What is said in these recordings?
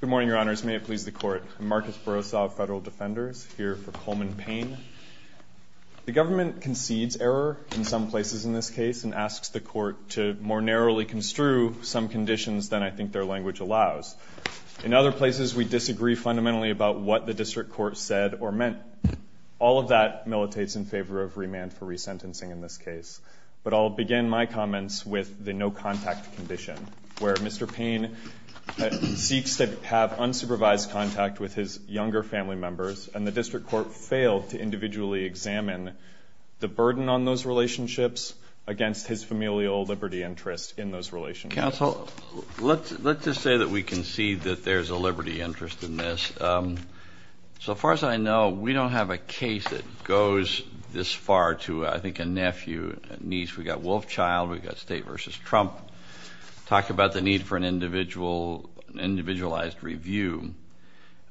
Good morning, Your Honors. May it please the Court. I'm Marcus Borosov, Federal Defenders, here for Coleman Payne. The government concedes error in some places in this case and asks the Court to more narrowly construe some conditions than I think their language allows. In other places we disagree fundamentally about what the District Court said or meant. All of that militates in favor of remand for resentencing in this case. But I'll begin my comments with the no-contact condition, where Mr. Payne seeks to have unsupervised contact with his younger family members, and the District Court failed to individually examine the burden on those relationships against his familial liberty interest in those relationships. Counsel, let's just say that we concede that there's a liberty interest in this. So far as I know, we don't have a case that goes this far to, I think, a nephew, niece. We've got Wolfchild. We've got State v. Trump. Talk about the need for an individualized review.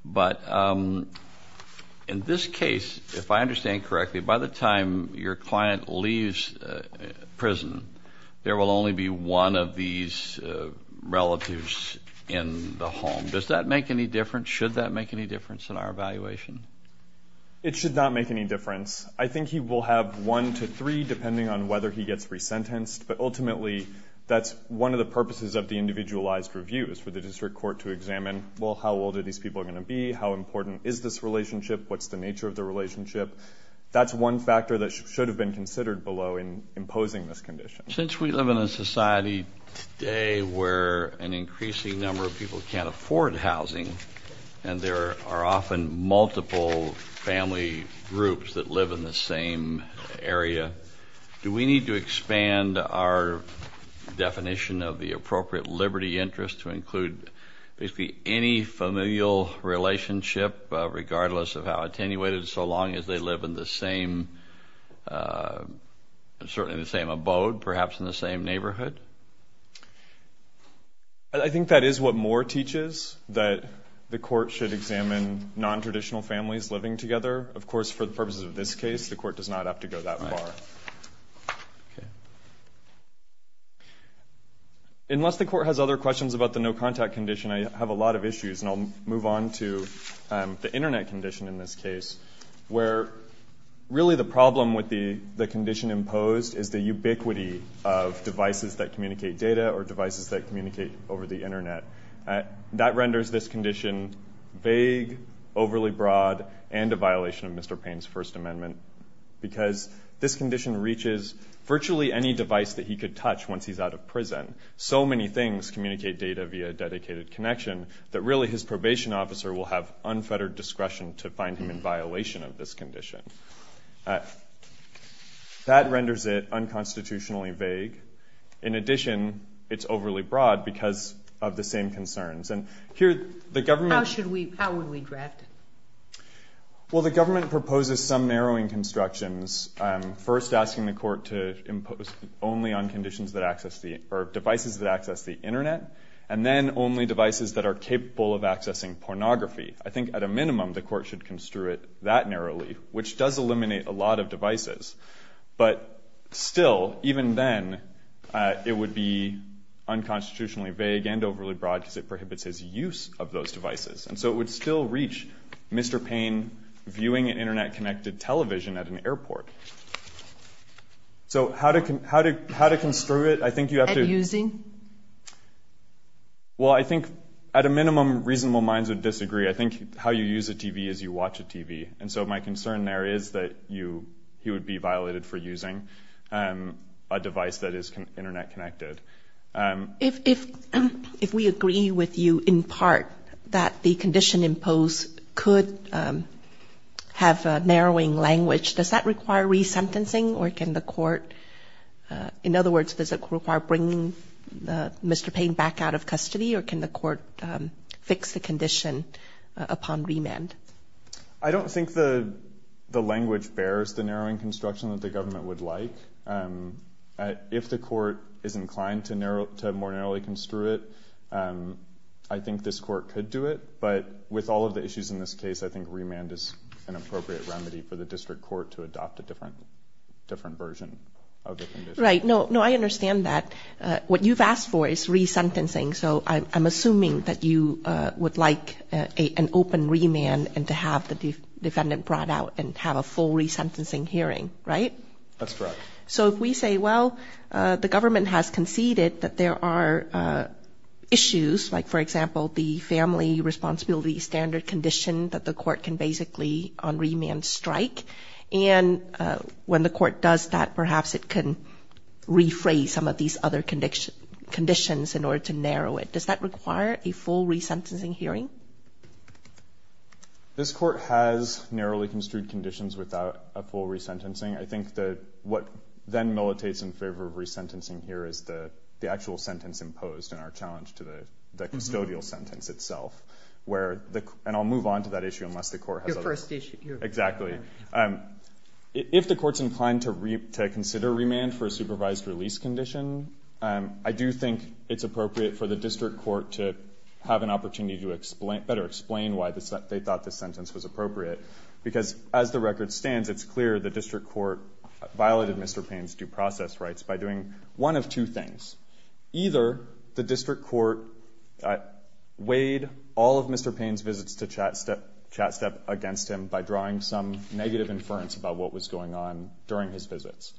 But in this case, if I understand correctly, by the time your client leaves prison, there will only be one of these relatives in the home. Does that make any difference? Should that make any difference in our evaluation? It should not make any difference. I think he will have one to three, depending on whether he gets resentenced. But ultimately, that's one of the purposes of the individualized review, is for the District Court to examine, well, how old are these people going to be? How important is this relationship? What's the nature of the relationship? That's one factor that should have been considered below in imposing this condition. Since we live in a society today where an increasing number of people can't afford housing, and there are often multiple family groups that live in the same area, do we need to expand our definition of the appropriate liberty interest to include basically any familial relationship, regardless of how attenuated, so long as they live in the same, certainly the same abode, perhaps in the same neighborhood? I think that is what Moore teaches, that the Court should examine nontraditional families living together. Of course, for the purposes of this case, the Court does not have to go that far. Unless the Court has other questions about the no-contact condition, I have a lot of issues, and I'll move on to the Internet condition in this case, where really the problem with the condition imposed is the ubiquity of devices that communicate data or devices that communicate over the Internet. That renders this condition vague, overly broad, and a violation of Mr. Payne's First Amendment, because this condition reaches virtually any device that he could touch once he's out of prison. So many things communicate data via a dedicated connection that really his probation officer will have unfettered discretion to find him in violation of this condition. That renders it unconstitutionally vague. In addition, it's overly broad because of the same concerns. How would we draft it? Well, the government proposes some narrowing constructions, first asking the Court to impose only on devices that access the Internet, and then only devices that are capable of communicating narrowly, which does eliminate a lot of devices. But still, even then, it would be unconstitutionally vague and overly broad, because it prohibits his use of those devices. And so it would still reach Mr. Payne viewing an Internet-connected television at an airport. So how to construe it? I think you have to— At using? Well, I think, at a minimum, reasonable minds would disagree. I think how you use a TV is you watch a TV. And so my concern there is that he would be violated for using a device that is Internet-connected. If we agree with you, in part, that the condition imposed could have narrowing language, does that require resentencing? Or can the Court—in other words, does it require bringing Mr. Payne back out of custody? Or can the Court fix the condition upon remand? I don't think the language bears the narrowing construction that the government would like. If the Court is inclined to more narrowly construe it, I think this Court could do it. But with all of the issues in this case, I think remand is an appropriate remedy for the district court to adopt a different version of the condition. Right. No, I understand that. What you've asked for is resentencing. So I'm assuming that you would like an open remand and to have the defendant brought out and have a full resentencing hearing, right? That's correct. So if we say, well, the government has conceded that there are issues, like, for example, the family responsibility standard condition that the Court can basically, on remand, strike, and when the Court does that, perhaps it can rephrase some of these other conditions in the statute. Does that require a full resentencing hearing? This Court has narrowly construed conditions without a full resentencing. I think that what then militates in favor of resentencing here is the actual sentence imposed and our challenge to the custodial sentence itself. And I'll move on to that issue unless the Court has other... Your first issue. Exactly. If the Court's inclined to consider remand for a supervised release condition, I do think it's appropriate for the District Court to have an opportunity to better explain why they thought this sentence was appropriate, because as the record stands, it's clear the District Court violated Mr. Payne's due process rights by doing one of two things. Either the District Court weighed all of Mr. Payne's visits to Chat Step against him by drawing some negative inference about what was going on during his visits.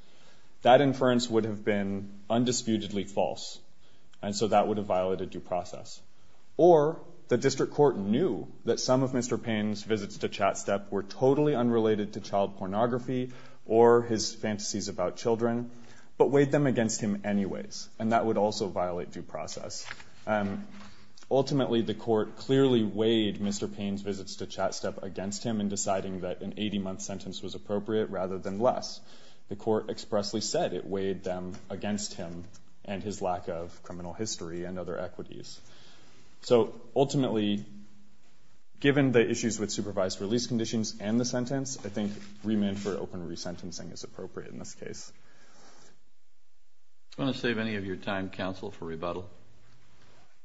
That inference would have been undisputedly false, and so that would have violated due process. Or the District Court knew that some of Mr. Payne's visits to Chat Step were totally unrelated to child pornography or his fantasies about children, but weighed them against him anyways, and that would also violate due process. Ultimately, the Court clearly weighed Mr. Payne's visits to Chat Step against him in deciding that an 80-month sentence was appropriate rather than less. The Court expressly said it weighed them against him and his lack of criminal history and other equities. So ultimately, given the issues with supervised release conditions and the sentence, I think remand for open resentencing is appropriate in this case. Do you want to save any of your time, counsel, for rebuttal?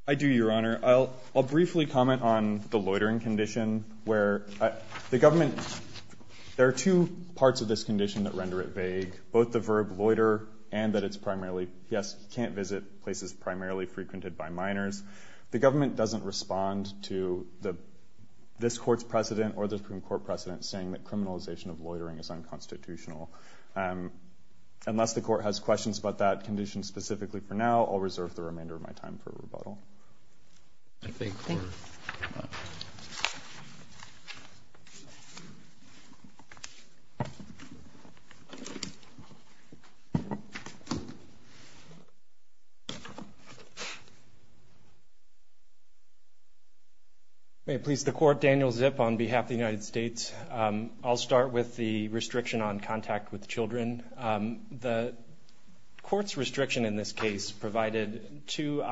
I do, Your Honor. I'll briefly comment on the loitering condition, where the government – there are two parts of this condition that render it vague, both the verb loiter and that it's primarily – yes, he can't visit places primarily frequented by minors. The government doesn't respond to this Court's precedent or the Supreme Court precedent saying that criminalization of loitering is unconstitutional. Unless the Court has questions about that condition specifically for now, I'll reserve the remainder of my time for rebuttal. May it please the Court, Daniel Zipp on behalf of the United States. I'll start with the restriction on contact with children. The Court's restriction in this case provided two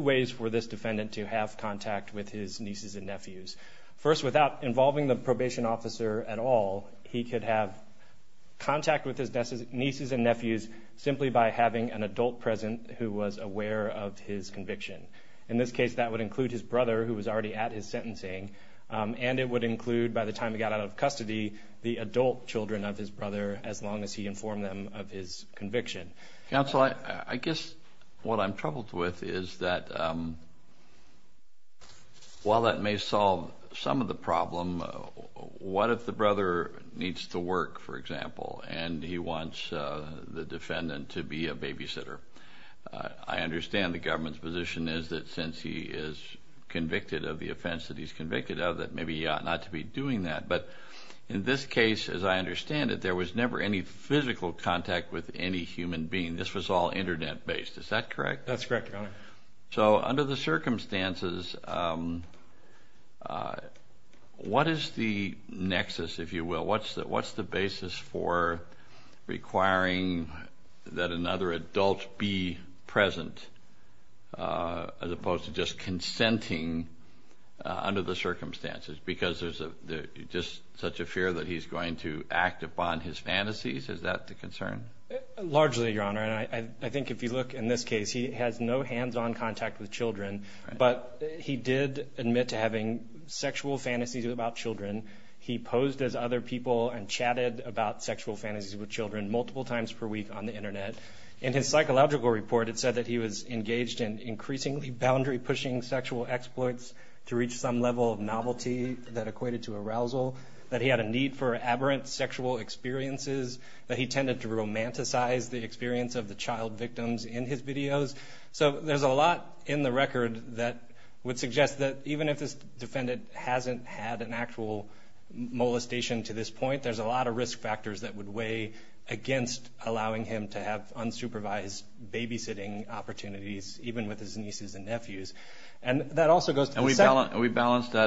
ways for this defendant to have contact with his nieces and nephews. First, without a father at all, he could have contact with his nieces and nephews simply by having an adult present who was aware of his conviction. In this case, that would include his brother who was already at his sentencing, and it would include, by the time he got out of custody, the adult children of his brother as long as he informed them of his conviction. Counsel, I guess what I'm troubled with is that while that may solve some of the problem, what if the brother needs to work, for example, and he wants the defendant to be a babysitter? I understand the government's position is that since he is convicted of the offense that he's convicted of, that maybe he ought not to be doing that. But in this case, as I understand it, there was never any physical contact with any human being. This was all Internet-based. Is that correct? That's correct, Your Honor. So under the circumstances, what is the nexus, if you will? What's the basis for requiring that another adult be present as opposed to just consenting under the circumstances? Because there's just such a fear that he's going to act upon his fantasies? Is that the concern? Largely, Your Honor. I think if you look in this case, he has no hands-on contact with children, but he did admit to having sexual fantasies about children. He posed as other people and chatted about sexual fantasies with children multiple times per week on the Internet. In his psychological report, it said that he was engaged in increasingly boundary-pushing sexual exploits to reach some level of novelty that equated to arousal, that he had a need for aberrant sexual experiences, that he tended to romanticize the experience of the child victims in his videos. So there's a lot in the record that would suggest that even if this defendant hasn't had an actual molestation to this point, there's a lot of risk factors that would weigh against allowing him to have unsupervised babysitting opportunities even with his nieces and nephews. And that also goes to the second... He's alleged to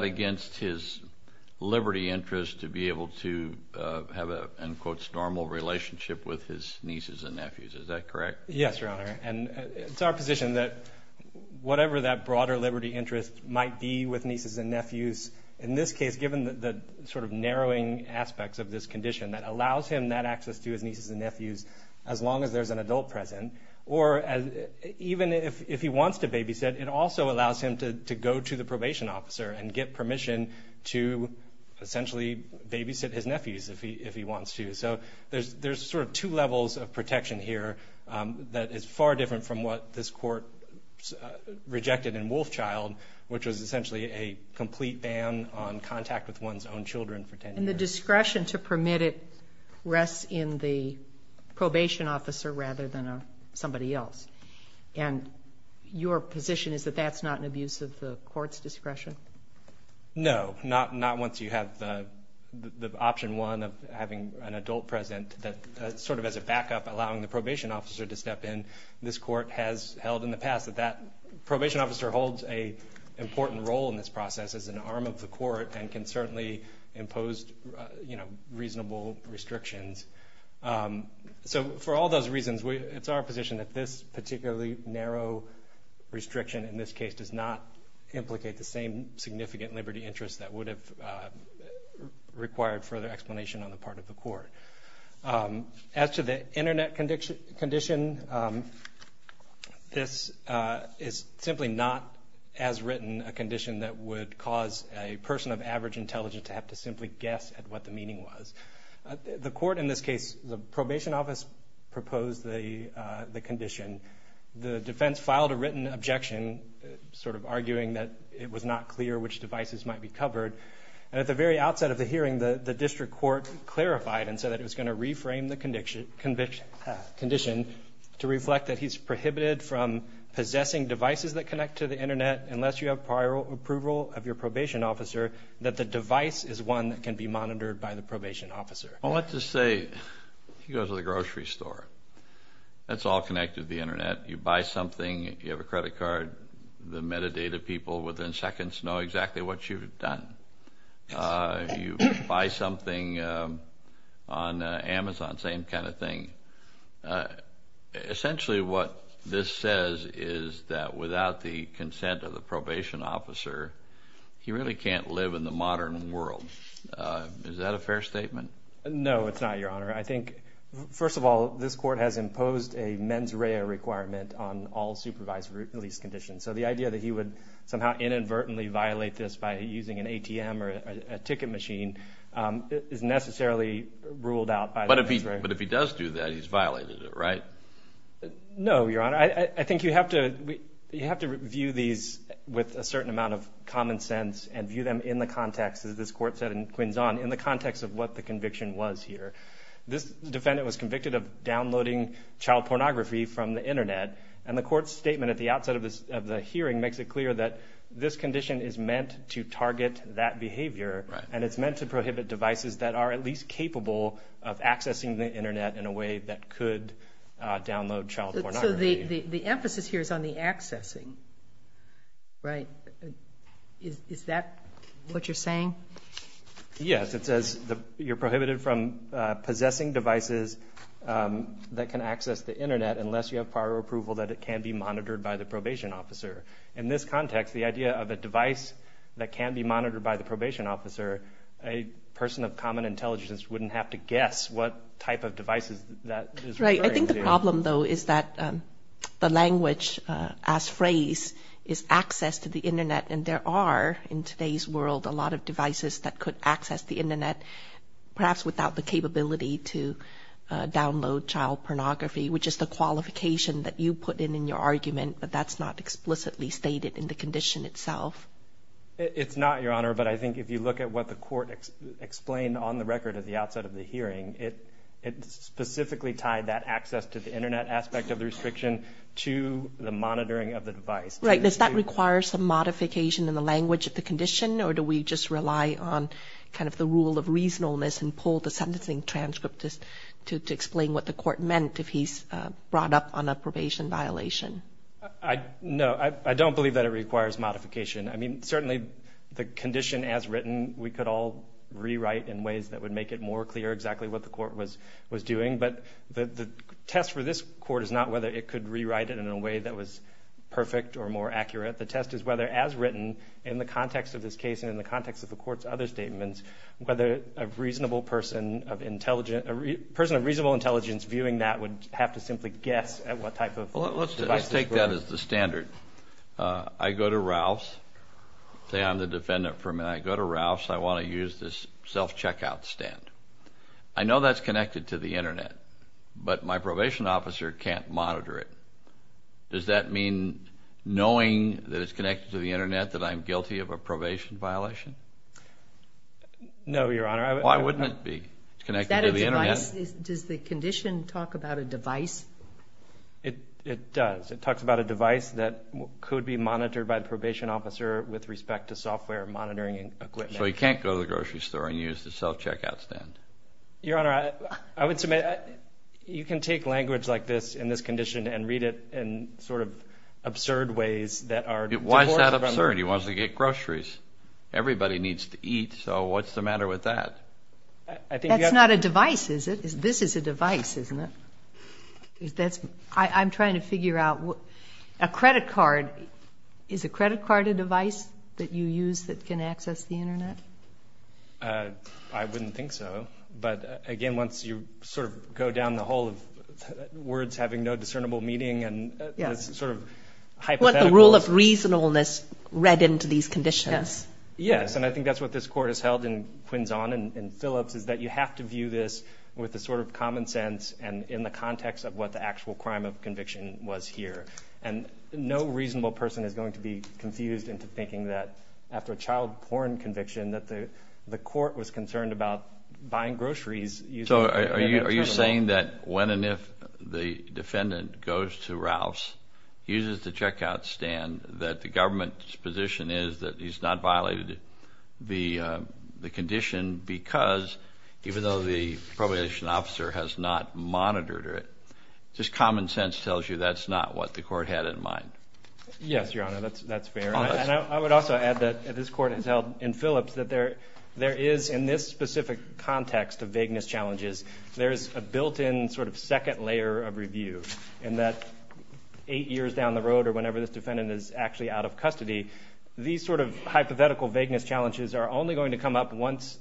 have a, in quotes, normal relationship with his nieces and nephews. Is that correct? Yes, Your Honor. And it's our position that whatever that broader liberty interest might be with nieces and nephews, in this case, given the sort of narrowing aspects of this condition that allows him that access to his nieces and nephews, as long as there's an adult present, or even if he wants to babysit, it also allows him to go to the probation officer and get permission to essentially babysit his nephews if he wants to. So there's sort of two levels of protection here that is far different from what this court rejected in Wolfchild, which was essentially a complete ban on contact with one's own children for 10 years. And the discretion to permit it rests in the probation officer rather than somebody else. And your position is that that's not an abuse of the court's discretion? No, not once you have the option one of having an adult present that sort of as a backup, allowing the probation officer to step in. This court has held in the past that that probation officer holds an important role in this process as an arm of the court and can certainly impose reasonable restrictions. So for all those reasons, it's our position that this particularly narrow restriction in this case does not implicate the same significant liberty interest that would have required further explanation on the part of the court. As to the internet condition, this is simply not as written a condition that would cause a person of average intelligence to have to simply guess at what the meaning was. The court in this case, the probation office proposed the condition. The defense filed a written objection sort of arguing that it was not clear which devices might be covered. And at the very outset of the hearing, the district court clarified and said that it was going to reframe the condition to reflect that he's prohibited from possessing devices that connect to the internet unless you have prior approval of your probation officer, that the device is one that can be monitored by the probation officer. Well, let's just say he goes to the grocery store. That's all connected to the internet. You buy something, you have a credit card, the metadata people within seconds know exactly what you've done. You buy something on Amazon, same kind of thing. Essentially what this says is that without the consent of the probation officer, he really can't live in the modern world. Is that a fair statement? No, it's not, Your Honor. I think, first of all, this court has imposed a mens rea requirement on all supervised release conditions. So the idea that he would somehow inadvertently violate this by using an ATM or a ticket machine is necessarily ruled out by the mens rea. But if he does do that, he's violated it, right? No, Your Honor. I think you have to view these with a certain amount of common sense and view them in the context, as this court said in Quinzon, in the context of what the conviction was here. This defendant was convicted of downloading child pornography from the internet, and the court's statement at the outset of the hearing makes it clear that this condition is meant to target that behavior, and it's meant to prohibit devices that are at least capable of accessing the internet in a way that could download child pornography. So the emphasis here is on the accessing, right? Is that what you're saying? Yes. It says you're prohibited from possessing devices that can access the internet unless you have prior approval that it can be monitored by the probation officer. In this context, the idea of a device that can be monitored by the probation officer, a person of common intelligence wouldn't have to guess what type of devices that is referring to. Right. I think the problem, though, is that the language as phrased is access to the internet, and there are, in today's world, a lot of devices that could access the internet, perhaps without the capability to download child pornography, which is the qualification that you put in in your argument, but that's not explicitly stated in the condition itself. It's not, Your Honor, but I think if you look at what the court explained on the record at the outset of the hearing, it specifically tied that access to the internet aspect of the restriction to the monitoring of the device. Right. Does that require some modification in the language of the condition, or do we just rely on kind of the rule of reasonableness and pull the sentencing transcript to explain what the court meant if he's brought up on a probation violation? No. I don't believe that it requires modification. I mean, certainly the condition as written, we could all rewrite in ways that would make it more clear exactly what the court was doing, but the test for this court is not whether it could rewrite it in a way that was perfect or more accurate. The test is whether, as written in the context of this case and in the context of the court's other statements, whether a person of reasonable intelligence viewing that would have to simply guess at what type of device this was. Well, let's take that as the standard. I go to Ralph's, say I'm the defendant, and I go to Ralph's, and I want to use this self-checkout stand. I know that's connected to the internet, but my probation officer can't monitor it. Does that mean knowing that it's connected to the internet that I'm guilty of a probation violation? No, Your Honor. Why wouldn't it be? It's connected to the internet. Does the condition talk about a device? It does. It talks about a device that could be monitored by the probation officer with respect to software monitoring equipment. So he can't go to the grocery store and use the self-checkout stand. Your Honor, I would submit you can take language like this in this condition and read it in sort of absurd ways that are divorced from the... Why is that absurd? He wants to get groceries. Everybody needs to eat, so what's the matter with that? That's not a device, is it? This is a device, isn't it? I'm trying to figure out... A credit card, is a credit card a device that you use that can access the internet? I wouldn't think so, but again, once you sort of go down the hole of words having no discernible meaning and this sort of hypothetical... What the rule of reasonableness read into these conditions. Yes, and I think that's what this Court has held in Quinzon and Phillips, is that you have to view this with a sort of common sense and in the context of what the actual crime of conviction was here. And no reasonable person is going to be confused into thinking that after a child porn conviction that the Court was concerned about buying groceries using... So are you saying that when and if the defendant goes to Ralph's, uses the checkout stand, that the government's position is that he's not violated the condition because even though the probation officer has not monitored it, just common sense tells you that's not what the Court had in mind? Yes, Your Honor, that's fair. And I would also add that this Court has held in Phillips that there is, in this specific context of vagueness challenges, there's a built-in sort of second layer of review in that eight years down the road or whenever this defendant is actually out of custody, these sort of hypothetical vagueness challenges are only going to come up once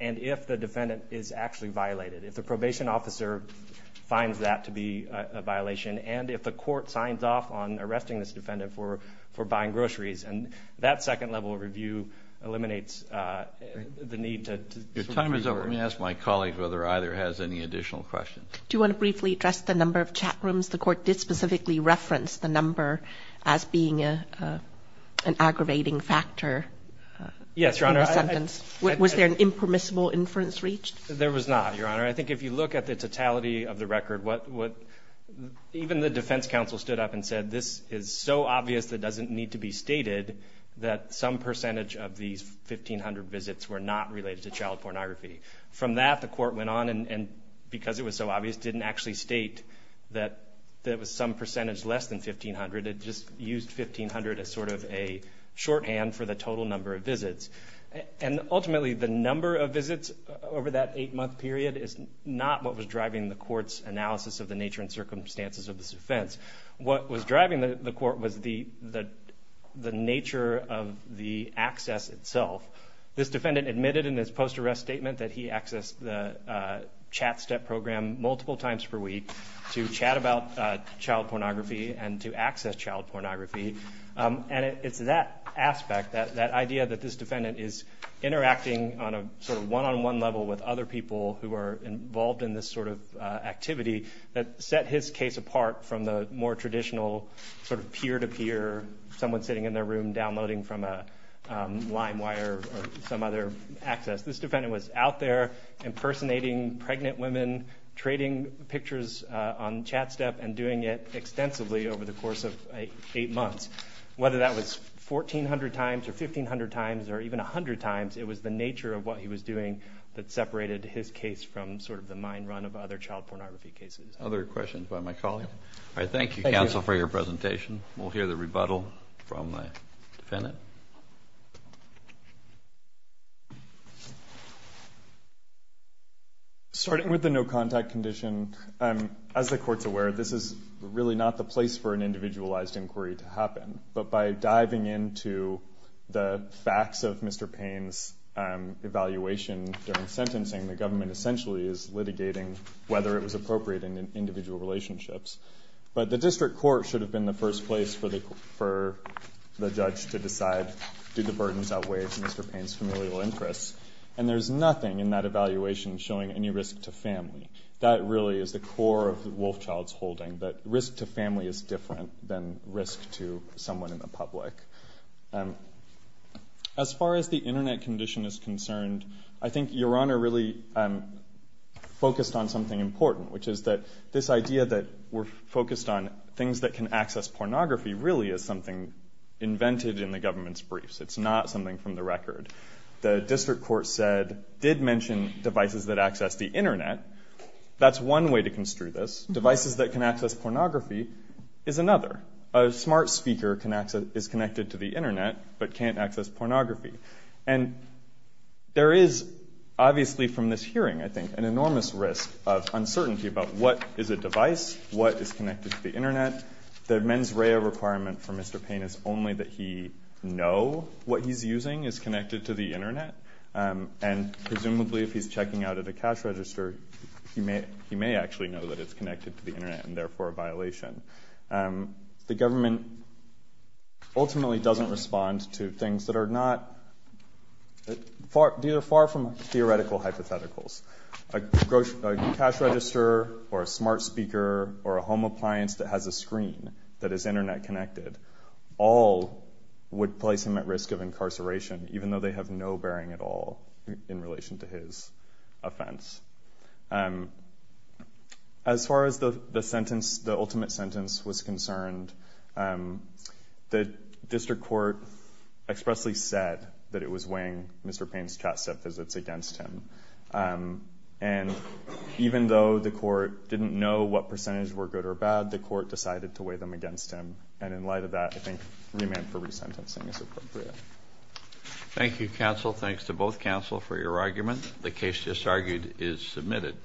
and if the defendant is actually violated, if the probation officer finds that to be a violation, and if the Court signs off on arresting this defendant for buying groceries. And that second level of review eliminates the need to... Your time is up. Let me ask my colleague whether either has any additional questions. Do you want to briefly address the number of chat rooms? The Court did specifically reference the number as being an aggravating factor in the sentence. Was there an impermissible inference reached? There was not, Your Honor. I think if you look at the totality of the record, what... Even the defense counsel stood up and said, this is so obvious that it doesn't need to be stated that some percentage of these 1,500 visits were not related to child pornography. From that, the Court went on and because it was so obvious, didn't actually state that there was some percentage less than 1,500. It just used 1,500 as sort of a shorthand for the total number of visits. And ultimately, the number of visits over that eight-month period is not what was driving the Court's analysis of the nature and circumstances of this offense. What was driving the Court was the nature of the access itself. This defendant admitted in his post-arrest statement that he accessed the chat step program multiple times per week to chat about child pornography and to access child pornography. And it's that aspect, that idea that this defendant is interacting on a sort of one-on-one level with other people who are involved in this sort of activity that set his case apart from the more traditional sort of peer-to-peer, someone sitting in their room downloading from a line wire or some other access. This defendant was out there impersonating pregnant women, trading pictures on chat step and doing it extensively over the course of eight months. Whether that was 1,400 times or 1,500 times or even 100 times, it was the nature of what he was doing that separated his case from sort of the mine run of other child pornography cases. Other questions by my colleague? All right. Thank you, counsel, for your presentation. We'll hear the rebuttal from the defendant. Starting with the no-contact condition, as the Court's aware, this is really not the place for an individualized inquiry to happen. But by diving into the facts of Mr. Payne's evaluation during sentencing, the government essentially is litigating whether it was appropriate in individual relationships. But the district court should have been the first place for the judge to decide, do the burdens outweigh Mr. Payne's familial interests? And there's nothing in that evaluation showing any risk to family. That really is the core of Wolfchild's holding, that risk to family is different than risk to someone in the public. As far as the Internet condition is concerned, I think Your Honor really focused on something important, which is that this idea that we're focused on things that can access pornography really is something invented in the government's briefs. It's not something from the record. The district court said, did mention devices that access the Internet. That's one way to construe this. Devices that can access pornography is another. A smart speaker is connected to the Internet but can't access pornography. And there is, obviously from this hearing, I think, an enormous risk of uncertainty about what is a device, what is connected to the Internet. The mens rea requirement for Mr. Payne is only that he know what he's using is connected to the Internet. And presumably if he's checking out at a cash register, he may actually know that it's connected to the Internet and therefore a violation. The government ultimately doesn't respond to things that are not, that are far from true. A smart speaker or a home appliance that has a screen that is Internet connected, all would place him at risk of incarceration, even though they have no bearing at all in relation to his offense. As far as the sentence, the ultimate sentence was concerned, the district court expressly said that it was weighing Mr. Payne's chat set visits against him. And even though the court didn't know what percentage were good or bad, the court decided to weigh them against him. And in light of that, I think remand for resentencing is appropriate. Thank you, counsel. Thanks to both counsel for your argument. The case just argued is submitted.